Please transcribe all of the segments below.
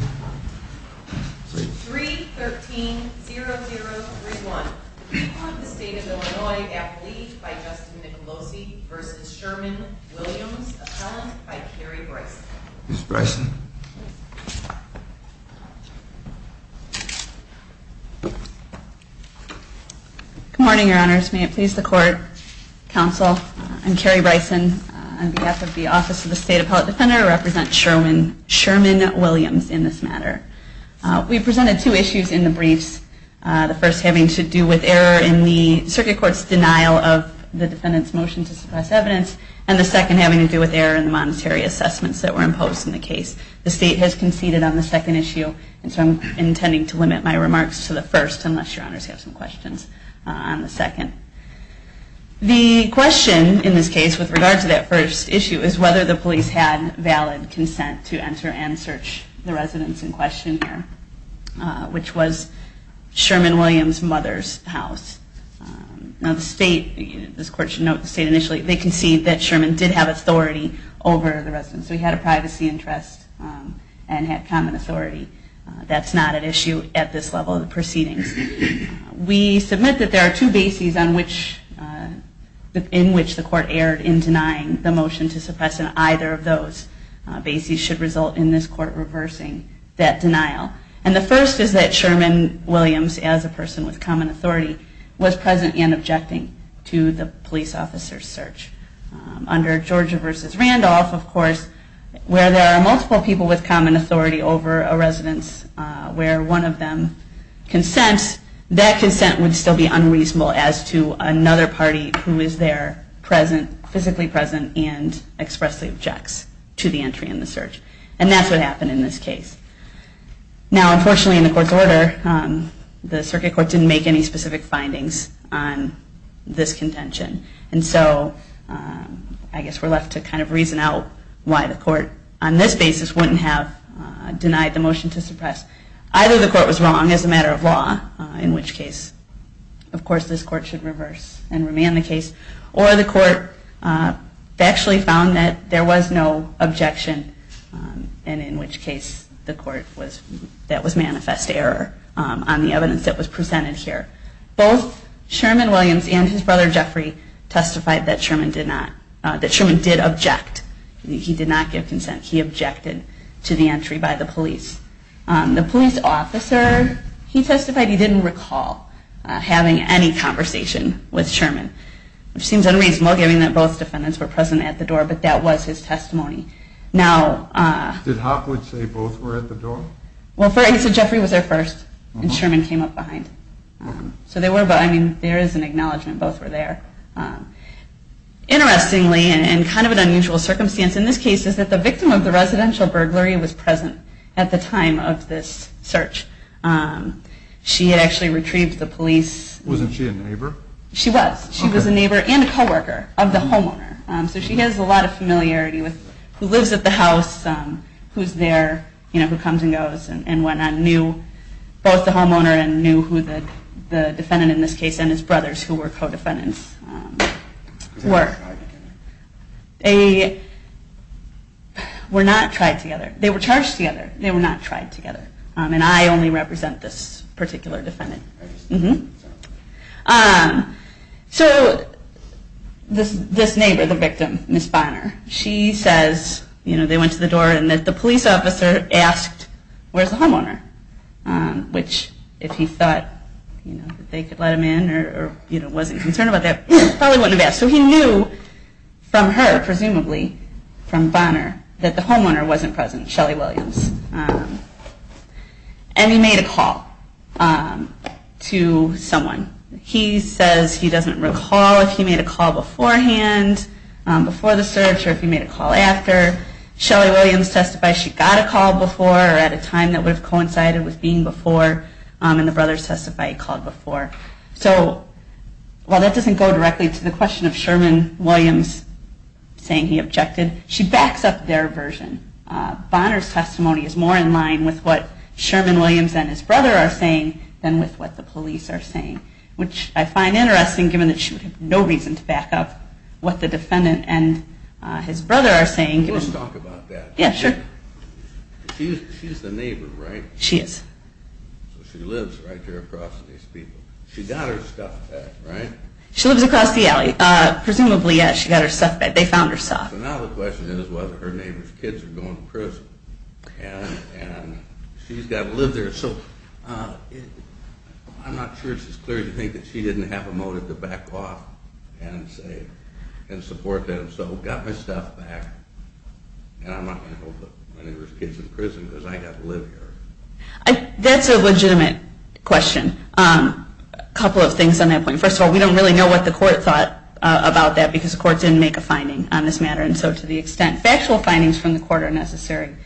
3.13.0031. Report of the State of Illinois Appellee by Justin Nicolosi v. Sherman Williams Appellant by Carrie Bryson. Good morning, Your Honors. May it please the Court, Counsel, I'm Carrie Bryson on behalf of the Office of the State Appellate Defender. I represent Sherman Williams in this matter. We presented two issues in the briefs, the first having to do with error in the Circuit Court's denial of the defendant's motion to suppress evidence, and the second having to do with error in the monetary assessments that were imposed in the case. The State has conceded on the second issue, and so I'm intending to limit my remarks to the first, unless Your Honors have some questions on the second. The question in this case with regard to that first issue is whether the police had valid consent to enter and search the residence in question here, which was Sherman Williams' mother's house. Now the State, this Court should note, the State initially conceded that Sherman did have authority over the residence. He had a privacy interest and had common authority. That's not an issue at this level of the proceedings. We submit that there are two bases in which the Court erred in denying the motion to suppress, and either of those bases should result in this Court reversing that denial. And the first is that Sherman Williams, as a person with common authority, was present and objecting to the police officer's search. Under Georgia v. Randolph, of course, where there are multiple people with common authority over a residence where one of them consents, that consent would still be unreasonable as to another party who is there physically present and expressly objects to the entry in the search. And that's what happened in this case. Now unfortunately in the Court's order, the Circuit Court didn't make any specific findings on this contention. And so I guess we're left to kind of reason out why the Court on this basis wouldn't have denied the motion to suppress. Either the Court was wrong as a matter of law, in which case, of course, this Court should reverse and remand the case. Or the Court factually found that there was no objection, and in which case the Court was, that was manifest error on the evidence that was presented here. Both Sherman Williams and his brother Jeffrey testified that Sherman did not, that Sherman did object. He did not give consent. He objected to the entry by the police. The police officer, he testified he didn't recall having any conversation with Sherman, which seems unreasonable given that both defendants were present at the door, but that was his testimony. Did Hopwood say both were at the door? Well, he said Jeffrey was there first, and Sherman came up behind. So they were, but I mean, there is an acknowledgment both were there. Interestingly, and kind of an unusual circumstance in this case, is that the victim of the residential burglary was present at the time of this search. She had actually retrieved the police. Wasn't she a neighbor? She was. She was a neighbor and a co-worker of the homeowner. So she has a lot of familiarity with who lives at the house, who's there, you know, who comes and goes and what not. She knew both the homeowner and knew who the defendant in this case and his brothers, who were co-defendants, were. They were not tried together. They were charged together. They were not tried together. And I only represent this particular defendant. So this neighbor, the victim, Miss Bonner, she says, you know, they went to the door and the police officer asked, where's the homeowner? Which, if he thought, you know, that they could let him in or, you know, wasn't concerned about that, probably wouldn't have asked. So he knew from her, presumably, from Bonner, that the homeowner wasn't present, Shelley Williams. And he made a call to someone. He says he doesn't recall if he made a call beforehand, before the search, or if he made a call after. Shelley Williams testifies she got a call before or at a time that would have coincided with being before. And the brothers testify he called before. So while that doesn't go directly to the question of Sherman Williams saying he objected, she backs up their version. Bonner's testimony is more in line with what Sherman Williams and his brother are saying than with what the police are saying. Which I find interesting, given that she would have no reason to back up what the defendant and his brother are saying. Let's talk about that. Yeah, sure. She's the neighbor, right? She is. So she lives right here across from these people. She got her stuff back, right? She lives across the alley. Presumably, yeah, she got her stuff back. They found her stuff. So now the question is whether her neighbor's kids are going to prison. And she's got to live there. So I'm not sure it's as clear to think that she didn't have a motive to back off and support them. So got my stuff back. And I'm not going to hold up my neighbor's kids in prison, because I got to live here. That's a legitimate question. A couple of things on that point. First of all, we don't really know what the court thought about that, because the court didn't make a finding on this matter. And so to the extent factual findings from the court are necessary,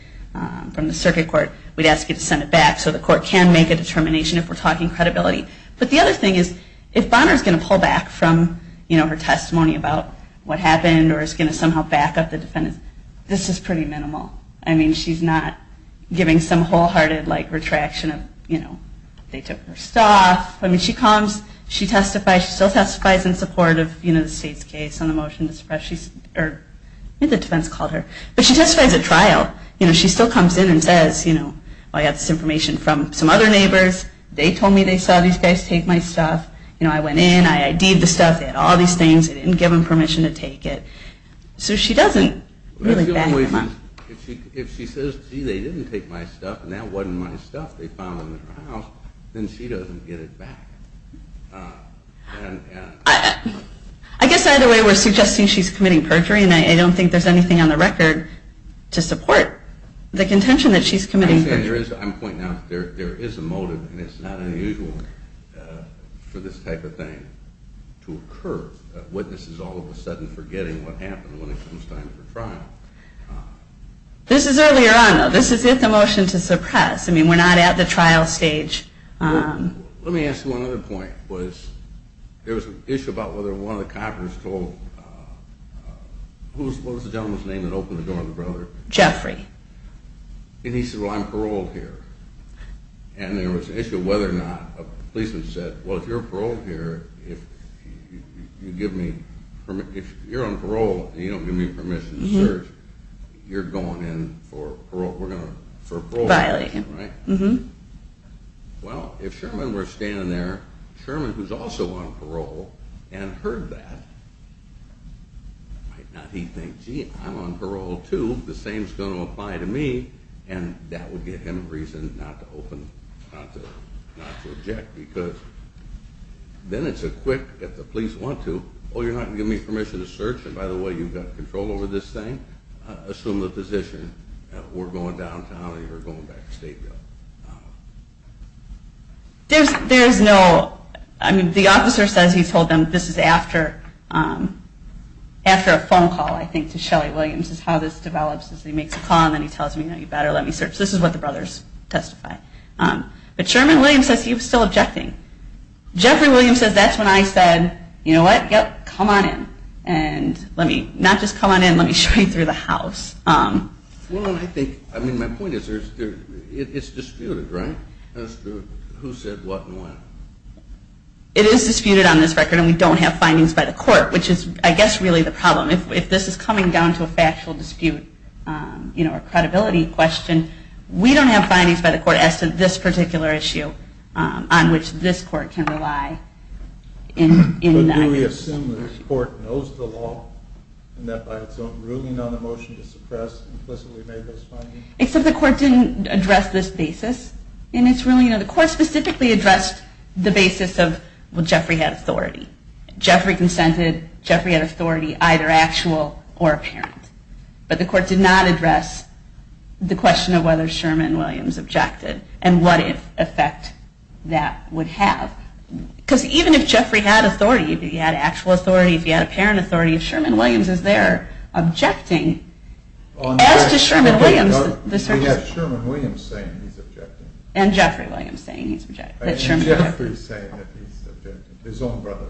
from the circuit court, we'd ask you to send it back. So the court can make a determination if we're talking credibility. But the other thing is, if Bonner's going to pull back from her testimony about what happened, or is going to somehow back up the defendants, this is pretty minimal. I mean, she's not giving some wholehearted retraction of, you know, they took her stuff. I mean, she comes. She testifies. She still testifies in support of the state's case on the motion to suppress. I think the defense called her. But she testifies at trial. You know, she still comes in and says, you know, I got this information from some other neighbors. They told me they saw these guys take my stuff. You know, I went in. I ID'd the stuff. They had all these things. I didn't give them permission to take it. So she doesn't really back them up. If she says, gee, they didn't take my stuff, and that wasn't my stuff they found in their house, then she doesn't get it back. I guess either way, we're suggesting she's committing perjury. And I don't think there's anything on the record to support the contention that she's committing perjury. I'm pointing out there is a motive, and it's not unusual for this type of thing to occur. Witnesses all of a sudden forgetting what happened when it comes time for trial. This is earlier on, though. This is at the motion to suppress. I mean, we're not at the trial stage. Let me ask you one other point. There was an issue about whether one of the coppers told, what was the gentleman's name that opened the door on the brother? Jeffrey. And he said, well, I'm paroled here. And there was an issue of whether or not a policeman said, well, if you're paroled here, if you're on parole and you don't give me permission to search, you're going in for parole. Well, if Sherman were standing there, Sherman, who's also on parole, and heard that, might not, he'd think, gee, I'm on parole, too. The same's going to apply to me. And that would give him reason not to open, not to object, because then it's a quick, if the police want to, oh, you're not going to give me permission to search? And by the way, you've got control over this thing? Assume the position that we're going downtown and you're going back to Stateville. There's no, I mean, the officer says he told them this is after a phone call, I think, to Shelly Williams is how this develops. He makes a call and then he tells them, you know, you better let me search. This is what the brothers testify. But Sherman Williams says he was still objecting. Jeffrey Williams says, that's when I said, you know what, yep, come on in. And let me, not just come on in, let me show you through the house. Well, I think, I mean, my point is, it's disputed, right, as to who said what and when? It is disputed on this record and we don't have findings by the court, which is, I guess, really the problem. If this is coming down to a factual dispute, you know, a credibility question, we don't have findings by the court as to this particular issue on which this court can rely. But do we assume that the court knows the law and that by its own ruling on the motion to suppress implicitly made those findings? Except the court didn't address this basis in its ruling. You know, the court specifically addressed the basis of, well, Jeffrey had authority. Jeffrey consented, Jeffrey had authority, either actual or apparent. But the court did not address the question of whether Sherman Williams objected and what effect that would have. Because even if Jeffrey had authority, if he had actual authority, if he had apparent authority, if Sherman Williams is there objecting, as does Sherman Williams. We have Sherman Williams saying he's objecting. And Jeffrey Williams saying he's objecting. And Jeffrey's saying that he's objecting, his own brother.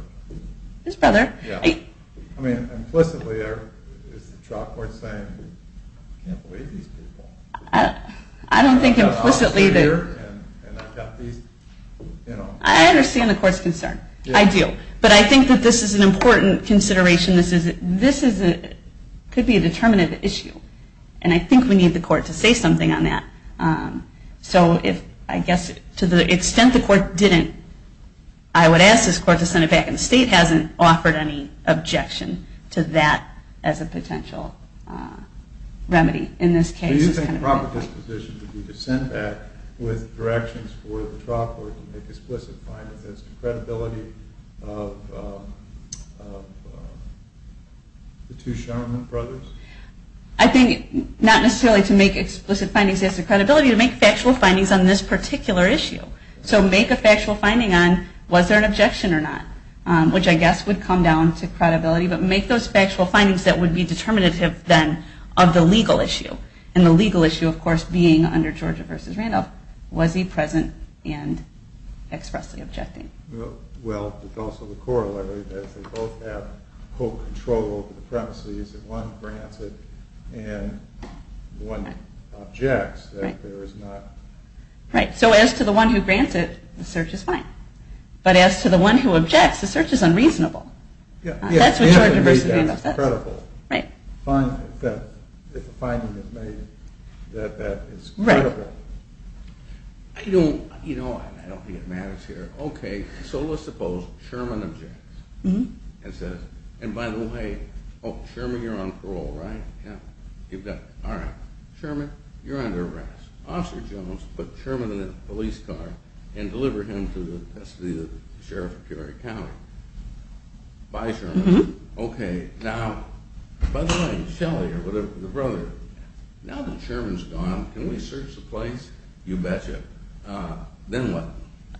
His brother? Yeah. I mean, implicitly, is the trial court saying, I can't believe these people. I don't think implicitly that... I understand the court's concern. I do. But I think that this is an important consideration. This could be a determinative issue. And I think we need the court to say something on that. So I guess to the extent the court didn't, I would ask this court to send it back. And the state hasn't offered any objection to that as a potential remedy in this case. Do you think the proper disposition would be to send back with directions for the trial court to make explicit findings as to credibility of the two Sherman brothers? I think not necessarily to make explicit findings as to credibility, but to make factual findings on this particular issue. So make a factual finding on was there an objection or not, which I guess would come down to credibility. But make those factual findings that would be determinative, then, of the legal issue. And the legal issue, of course, being under Georgia v. Randolph, was he present and expressly objecting? Well, there's also the corollary that if they both have full control over the premises, if one grants it and one objects, that there is not... Right. So as to the one who grants it, the search is fine. But as to the one who objects, the search is unreasonable. Yeah. That's what Georgia v. Randolph says. Right. If a finding is made that that is credible. Right. I don't think it matters here. Okay, so let's suppose Sherman objects and says, and by the way, oh, Sherman, you're on parole, right? Yeah. All right. Sherman, you're under arrest. Officer Jones, put Sherman in a police car and deliver him to the test of the Sheriff of Peoria County. Bye, Sherman. Okay. Now, by the way, Shelley or whatever, the brother, now that Sherman's gone, can we search the place? You betcha. Then what?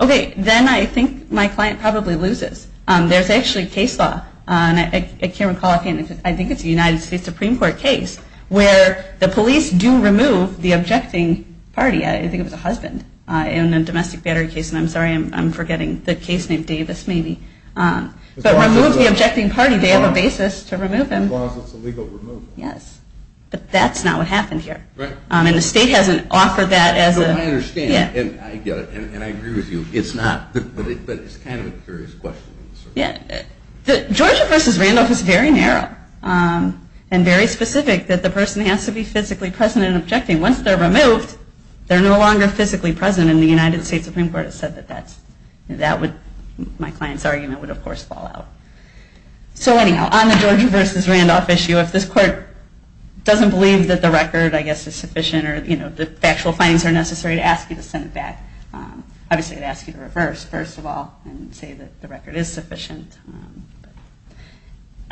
Okay, then I think my client probably loses. There's actually case law. I can't recall. I think it's a United States Supreme Court case where the police do remove the objecting party. I think it was a husband in a domestic battery case. And I'm sorry, I'm forgetting the case named Davis, maybe. But remove the objecting party. They have a basis to remove him. As long as it's a legal removal. Yes. But that's not what happened here. Right. And the state hasn't offered that as a – No, I understand. And I get it. And I agree with you. It's not. But it's kind of a curious question. Yeah. Georgia v. Randolph is very narrow and very specific that the person has to be physically present and objecting. Once they're removed, they're no longer physically present. And the United States Supreme Court has said that that's – that would – my client's argument would, of course, fall out. So, anyhow, on the Georgia v. Randolph issue, if this court doesn't believe that the record, I guess, is sufficient or, you know, the factual findings are necessary to ask you to send it back, obviously, it would ask you to reverse, first of all, and say that the record is sufficient.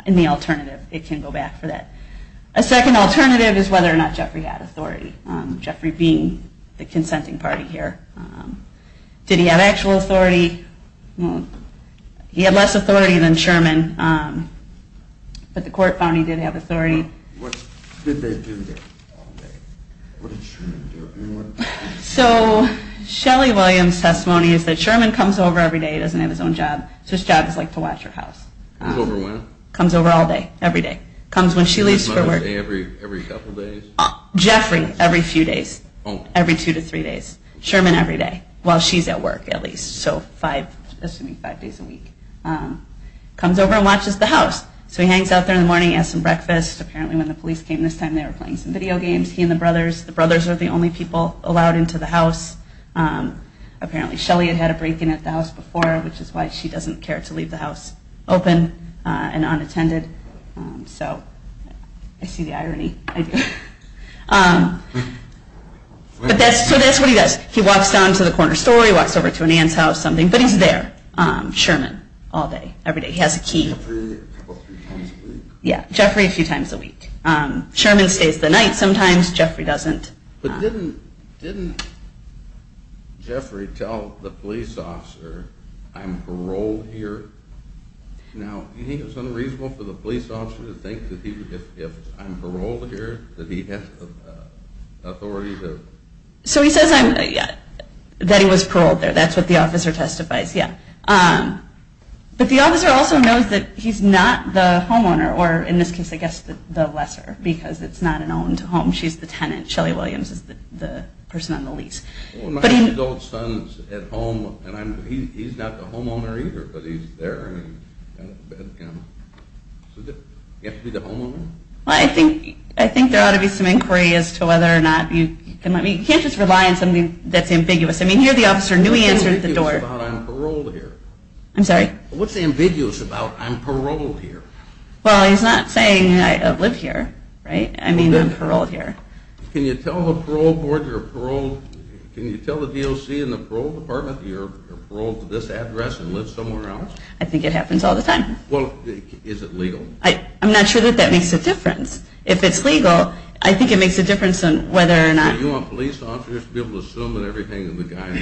And the alternative, it can go back for that. A second alternative is whether or not Jeffrey had authority. Jeffrey being the consenting party here. Did he have actual authority? He had less authority than Sherman. But the court found he did have authority. What did they do there? What did Sherman do? So Shelley Williams' testimony is that Sherman comes over every day. He doesn't have his own job. So his job is, like, to watch her house. Comes over when? Comes over all day. Every day. Comes when she leaves for work. Every couple days? Jeffrey, every few days. Every two to three days. Sherman, every day. While she's at work, at least. So five – assuming five days a week. Comes over and watches the house. So he hangs out there in the morning, has some breakfast. Apparently, when the police came this time, they were playing some video games. He and the brothers – the brothers are the only people allowed into the house. Apparently, Shelley had had a break-in at the house before, which is why she doesn't care to leave the house open and unattended. So I see the irony. I do. But that's – so that's what he does. He walks down to the corner store. He walks over to an aunt's house, something. But he's there. Sherman. All day. He has a key. Jeffrey a few times a week. Yeah. Jeffrey a few times a week. Sherman stays the night sometimes. Jeffrey doesn't. But didn't – didn't Jeffrey tell the police officer, I'm paroled here? Now, do you think it was unreasonable for the police officer to think that he – if I'm paroled here, that he has the authority to – So he says I'm – that he was paroled there. That's what the officer testifies. Yeah. But the officer also knows that he's not the homeowner, or in this case, I guess, the lesser, because it's not an owned home. She's the tenant. Shelley Williams is the person on the lease. Well, my two adult sons at home, and I'm – he's not the homeowner either, but he's there, and he's got a bed. So does it have to be the homeowner? Well, I think there ought to be some inquiry as to whether or not you can let me – you can't just rely on something that's ambiguous. I mean, here the officer knew he answered the door. What's ambiguous about I'm paroled here? I'm sorry? What's ambiguous about I'm paroled here? Well, he's not saying I live here, right? I mean I'm paroled here. Can you tell the parole board you're paroled – can you tell the DOC and the parole department that you're paroled to this address and live somewhere else? I think it happens all the time. Well, is it legal? I'm not sure that that makes a difference. If it's legal, I think it makes a difference on whether or not – Do you want police officers to be able to assume that everything the guy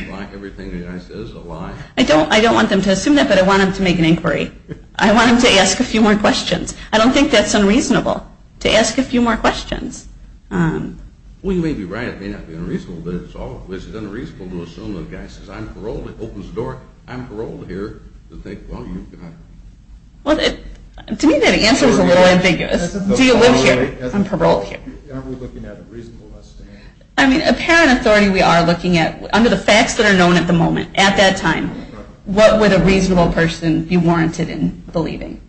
says is a lie? I don't want them to assume that, but I want them to make an inquiry. I want them to ask a few more questions. I don't think that's unreasonable, to ask a few more questions. Well, you may be right. It may not be unreasonable, but it's unreasonable to assume that a guy says I'm paroled, opens the door, I'm paroled here, and think, well, you've got – To me that answer is a little ambiguous. Do you live here? I'm paroled here. Aren't we looking at a reasonable estimate? I mean, apparent authority we are looking at, under the facts that are known at the moment, at that time, what would a reasonable person be warranted in believing?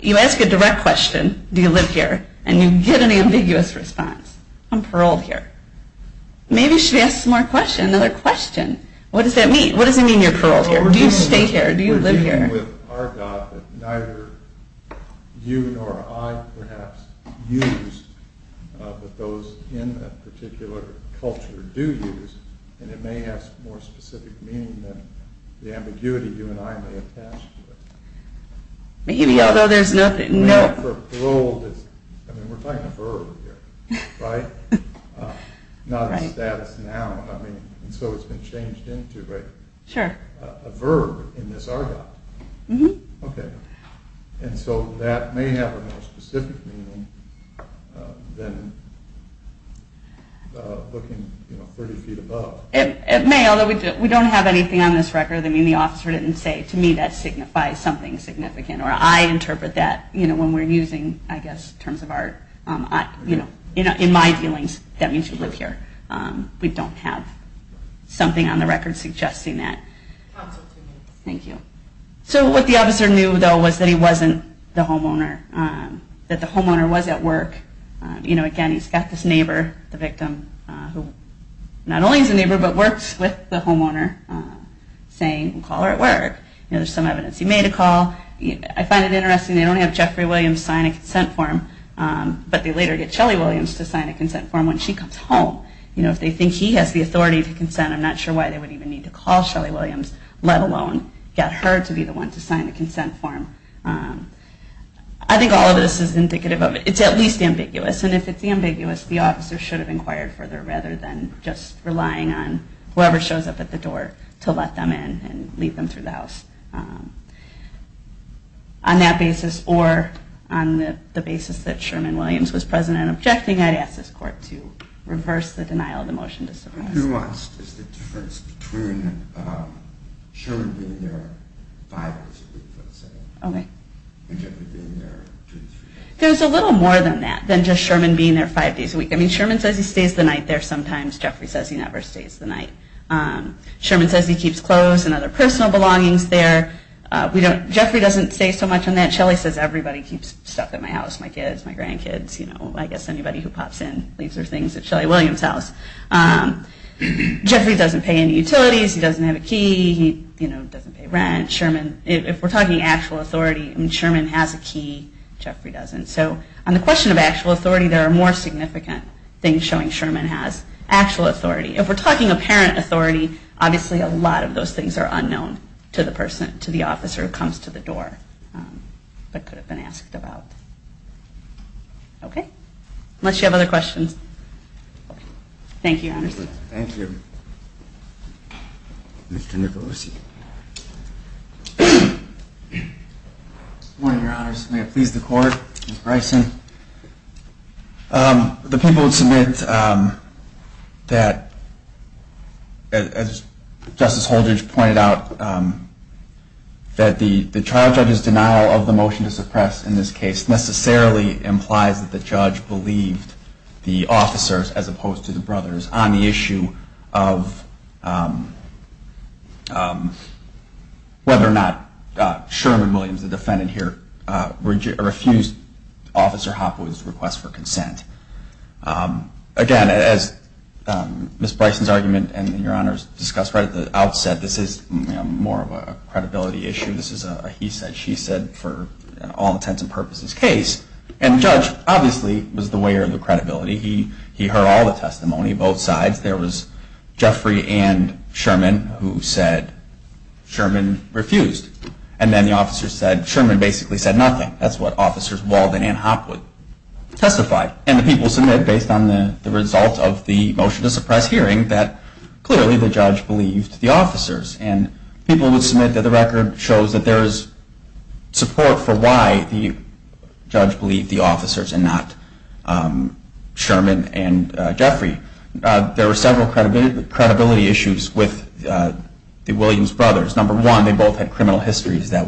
You ask a direct question, do you live here, and you get an ambiguous response. I'm paroled here. Maybe you should ask some more questions, another question. What does that mean? What does it mean you're paroled here? Do you stay here? Do you live here? We're dealing with our God that neither you nor I perhaps used, but those in a particular culture do use, and it may have more specific meaning than the ambiguity you and I may attach to it. Maybe, although there's nothing – Parole is – I mean, we're talking a verb here, right? Not a status noun, I mean, and so it's been changed into, right? Sure. A verb in this argot. Mm-hmm. Okay. And so that may have a more specific meaning than looking 30 feet above. It may, although we don't have anything on this record. I mean, the officer didn't say, to me, that signifies something significant, or I interpret that when we're using, I guess, terms of our – in my dealings, that means you live here. We don't have something on the record suggesting that. Counsel, two minutes. Thank you. So what the officer knew, though, was that he wasn't the homeowner, that the homeowner was at work. You know, again, he's got this neighbor, the victim, who not only is a neighbor but works with the homeowner, saying, call her at work. You know, there's some evidence he made a call. I find it interesting they don't have Jeffrey Williams sign a consent form, but they later get Shelley Williams to sign a consent form when she comes home. You know, if they think he has the authority to consent, I'm not sure why they would even need to call Shelley Williams, let alone get her to be the one to sign the consent form. I think all of this is indicative of it. It's at least ambiguous. And if it's ambiguous, the officer should have inquired further, rather than just relying on whoever shows up at the door to let them in and lead them through the house. On that basis, or on the basis that Sherman Williams was present and objecting, I'd ask this Court to reverse the denial of the motion. Who wants the difference between Sherman being there five days a week, let's say, and Jeffrey being there two or three days a week? There's a little more than that, than just Sherman being there five days a week. I mean, Sherman says he stays the night there sometimes. Jeffrey says he never stays the night. Sherman says he keeps clothes and other personal belongings there. Jeffrey doesn't say so much on that. Shelley says everybody keeps stuff at my house, my kids, my grandkids, I guess anybody who pops in leaves their things at Shelley Williams' house. Jeffrey doesn't pay any utilities. He doesn't have a key. He doesn't pay rent. If we're talking actual authority, Sherman has a key. Jeffrey doesn't. So on the question of actual authority, there are more significant things showing Sherman has actual authority. If we're talking apparent authority, obviously a lot of those things are unknown to the officer who comes to the door but could have been asked about. Okay? Unless you have other questions. Thank you, Your Honors. Thank you. Mr. Nicolucci. Good morning, Your Honors. May it please the Court. Mr. Bryson. The people would submit that, as Justice Holdridge pointed out, that the trial judge's denial of the motion to suppress in this case necessarily implies that the judge believed the officers as opposed to the brothers on the issue of whether or not Sherman Williams, the defendant here, refused Officer Hopwood's request for consent. Again, as Ms. Bryson's argument and Your Honors discussed right at the outset, this is more of a credibility issue. This is a he-said-she-said for all intents and purposes case. And the judge obviously was the wearer of the credibility. He heard all the testimony, both sides. There was Jeffrey and Sherman who said Sherman refused. And then the officer said Sherman basically said nothing. That's what Officers Walden and Hopwood testified. And the people submit, based on the results of the motion to suppress hearing, that clearly the judge believed the officers. And people would submit that the record shows that there is support for why the judge believed the officers and not Sherman and Jeffrey. There were several credibility issues with the Williams brothers. Number one, they both had criminal histories that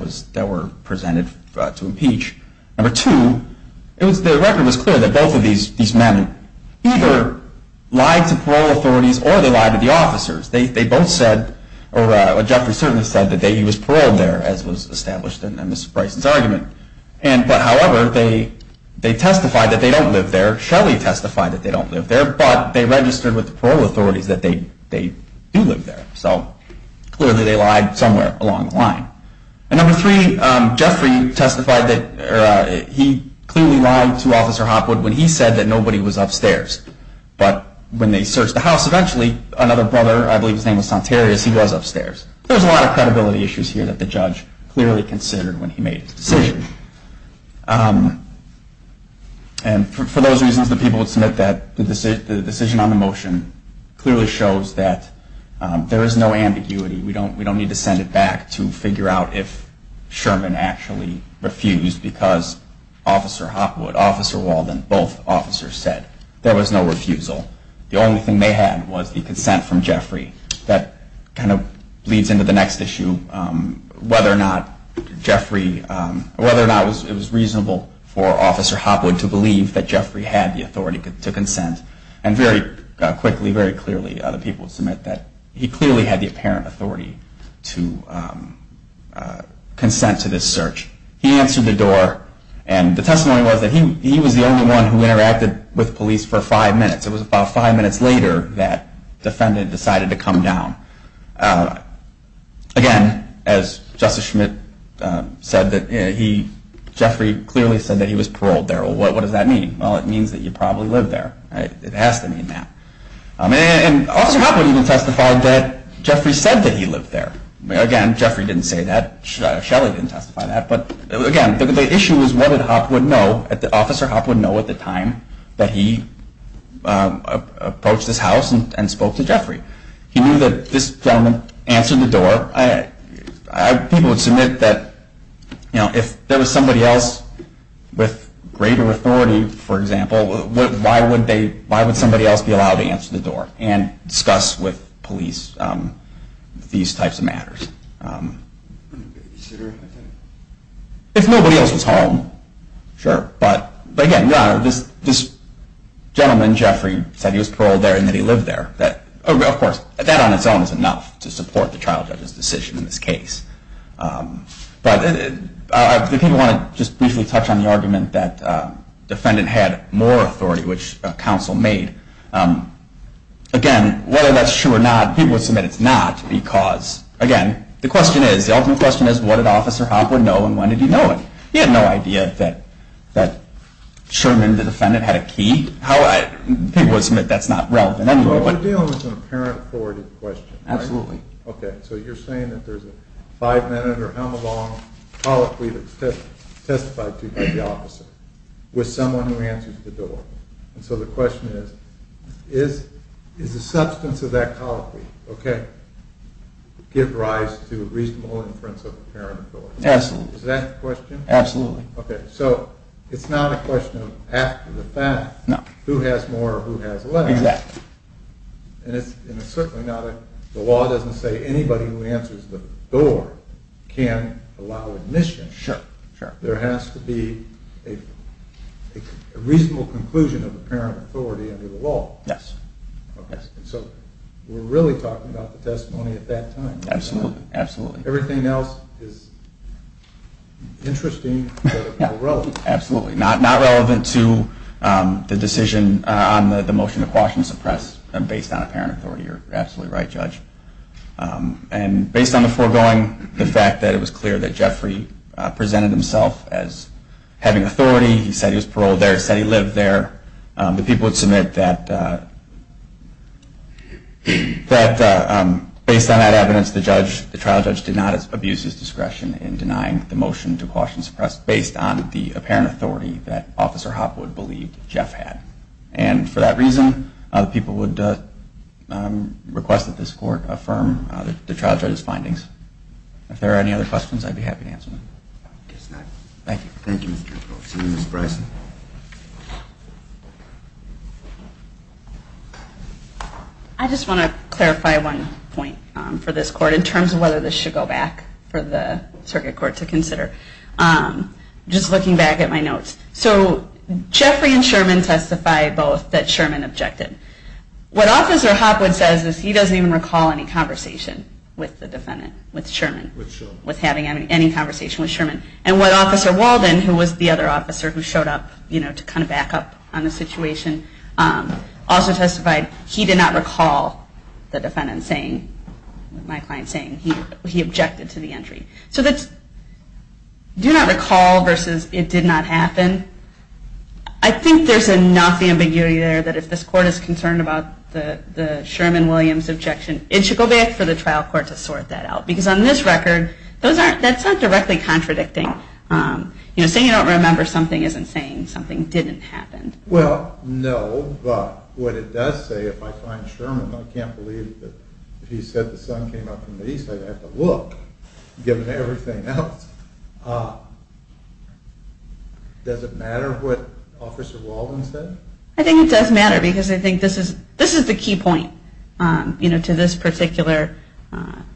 were presented to impeach. Number two, the record was clear that both of these men either lied to or they lied to the officers. Jeffrey certainly said that he was paroled there, as was established in Ms. Bryson's argument. But however, they testified that they don't live there. Shelly testified that they don't live there. But they registered with the parole authorities that they do live there. So clearly they lied somewhere along the line. And number three, Jeffrey testified that he clearly lied to Officer Hopwood when he said that nobody was upstairs. But when they searched the house, eventually another brother, I believe his name was Santarius, he was upstairs. There was a lot of credibility issues here that the judge clearly considered when he made his decision. And for those reasons, the people would submit that the decision on the motion clearly shows that there is no ambiguity. We don't need to send it back to figure out if Sherman actually refused because Officer Hopwood, Officer Walden, both officers said. There was no refusal. The only thing they had was the consent from Jeffrey. That kind of leads into the next issue, whether or not it was reasonable for Officer Hopwood to believe that Jeffrey had the authority to consent. And very quickly, very clearly, the people would submit that he clearly had the apparent authority to consent to this search. He answered the door. And the testimony was that he was the only one who interacted with police for five minutes. It was about five minutes later that the defendant decided to come down. Again, as Justice Schmidt said, Jeffrey clearly said that he was paroled there. Well, what does that mean? Well, it means that he probably lived there. It has to mean that. And Officer Hopwood even testified that Jeffrey said that he lived there. Again, Jeffrey didn't say that. Shelley didn't testify that. But, again, the issue is what did Officer Hopwood know at the time that he approached this house and spoke to Jeffrey? He knew that this gentleman answered the door. People would submit that if there was somebody else with greater authority, for example, why would somebody else be allowed to answer the door and discuss with police these types of matters? If nobody else was home, sure. But, again, this gentleman, Jeffrey, said he was paroled there and that he lived there. Of course, that on its own is enough to support the trial judge's decision in this case. But if you want to just briefly touch on the argument that the defendant had more authority, which counsel made, again, whether that's true or not, people would submit it's not because, again, the question is, the ultimate question is what did Officer Hopwood know and when did he know it? He had no idea that Sherman, the defendant, had a key. People would submit that's not relevant anyway. But the deal is an apparent authority question, right? Absolutely. Okay. So you're saying that there's a five-minute or how-long colloquy that's testified to by the officer with someone who answers the door. And so the question is, is the substance of that colloquy, okay, give rise to a reasonable inference of apparent authority? Absolutely. Is that the question? Absolutely. Okay. So it's not a question of after the fact. No. Who has more or who has less. Exactly. And it's certainly not the law doesn't say anybody who answers the door can allow admission. Sure, sure. There has to be a reasonable conclusion of apparent authority under the law. Yes. Okay. So we're really talking about the testimony at that time. Absolutely. Absolutely. Everything else is interesting but irrelevant. Absolutely. Not relevant to the decision on the motion to quash and suppress based on apparent authority. You're absolutely right, Judge. And based on the foregoing, the fact that it was clear that Jeffrey presented himself as having authority. He said he was paroled there. He said he lived there. The people would submit that based on that evidence, the trial judge did not abuse his discretion in denying the motion to quash and suppress based on the apparent authority that Officer Hopwood believed Jeff had. And for that reason, the people would request that this court affirm the trial judge's findings. If there are any other questions, I'd be happy to answer them. I guess not. Thank you. Thank you, Mr. Jefferson. Ms. Bryson. I just want to clarify one point for this court in terms of whether this should go back for the circuit court to consider. Just looking back at my notes. Jeffrey and Sherman testified both that Sherman objected. What Officer Hopwood says is he doesn't even recall any conversation with the defendant, with Sherman. With Sherman. With having any conversation with Sherman. And what Officer Walden, who was the other officer who showed up to kind of back up on the situation, also testified he did not recall the defendant saying, my client saying, he objected to the entry. So that's do not recall versus it did not happen. I think there's enough ambiguity there that if this court is concerned about the Sherman-Williams objection, it should go back for the trial court to sort that out. Because on this record, that's not directly contradicting. You know, saying you don't remember something isn't saying something didn't happen. Well, no. But what it does say, if I find Sherman, I can't believe that if he said the same thing to me and everything else. Does it matter what Officer Walden said? I think it does matter. Because I think this is the key point, you know, to this particular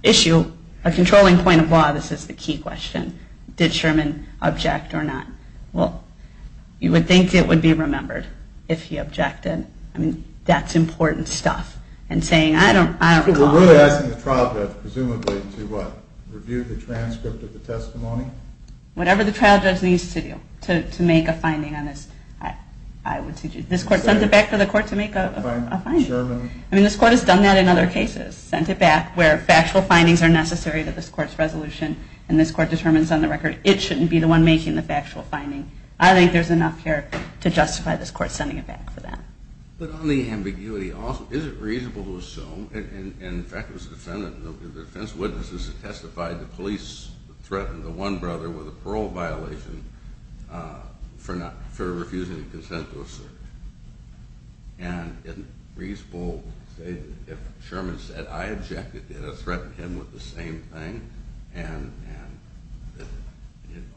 issue. A controlling point of law, this is the key question. Did Sherman object or not? Well, you would think it would be remembered if he objected. I mean, that's important stuff. And saying, I don't recall. I'm really asking the trial judge, presumably, to what? Review the transcript of the testimony? Whatever the trial judge needs to do to make a finding on this, I would suggest. This court sent it back to the court to make a finding. I mean, this court has done that in other cases. Sent it back where factual findings are necessary to this court's resolution, and this court determines on the record it shouldn't be the one making the factual finding. I think there's enough here to justify this court sending it back for that. But on the ambiguity, is it reasonable to assume, and in fact it was the defense witnesses that testified, the police threatened the one brother with a parole violation for refusing to consent to a search. And isn't it reasonable to say that if Sherman said, I objected, they would have threatened him with the same thing? And,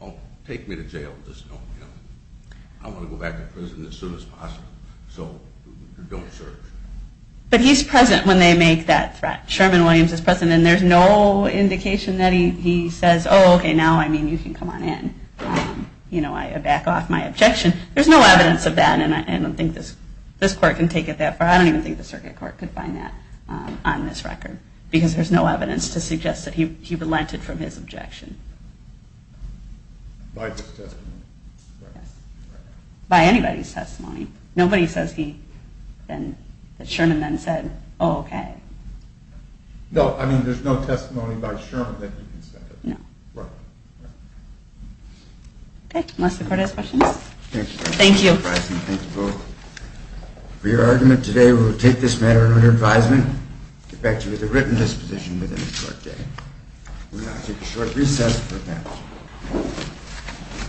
oh, take me to jail. Just don't kill me. I want to go back to prison as soon as possible. So don't search. But he's present when they make that threat. Sherman Williams is present, and there's no indication that he says, oh, OK, now I mean you can come on in. You know, I back off my objection. There's no evidence of that, and I don't think this court can take it that far. I don't even think the circuit court could find that on this record, because there's no evidence to suggest that he relented from his objection. By this testimony. By anybody's testimony. Nobody says that Sherman then said, oh, OK. No, I mean there's no testimony by Sherman that he consented. No. Right. OK, unless the court has questions. Thank you. Thank you both. For your argument today, we will take this matter under advisement and get back to you with a written disposition within a short day. We will now take a short recess for the panel.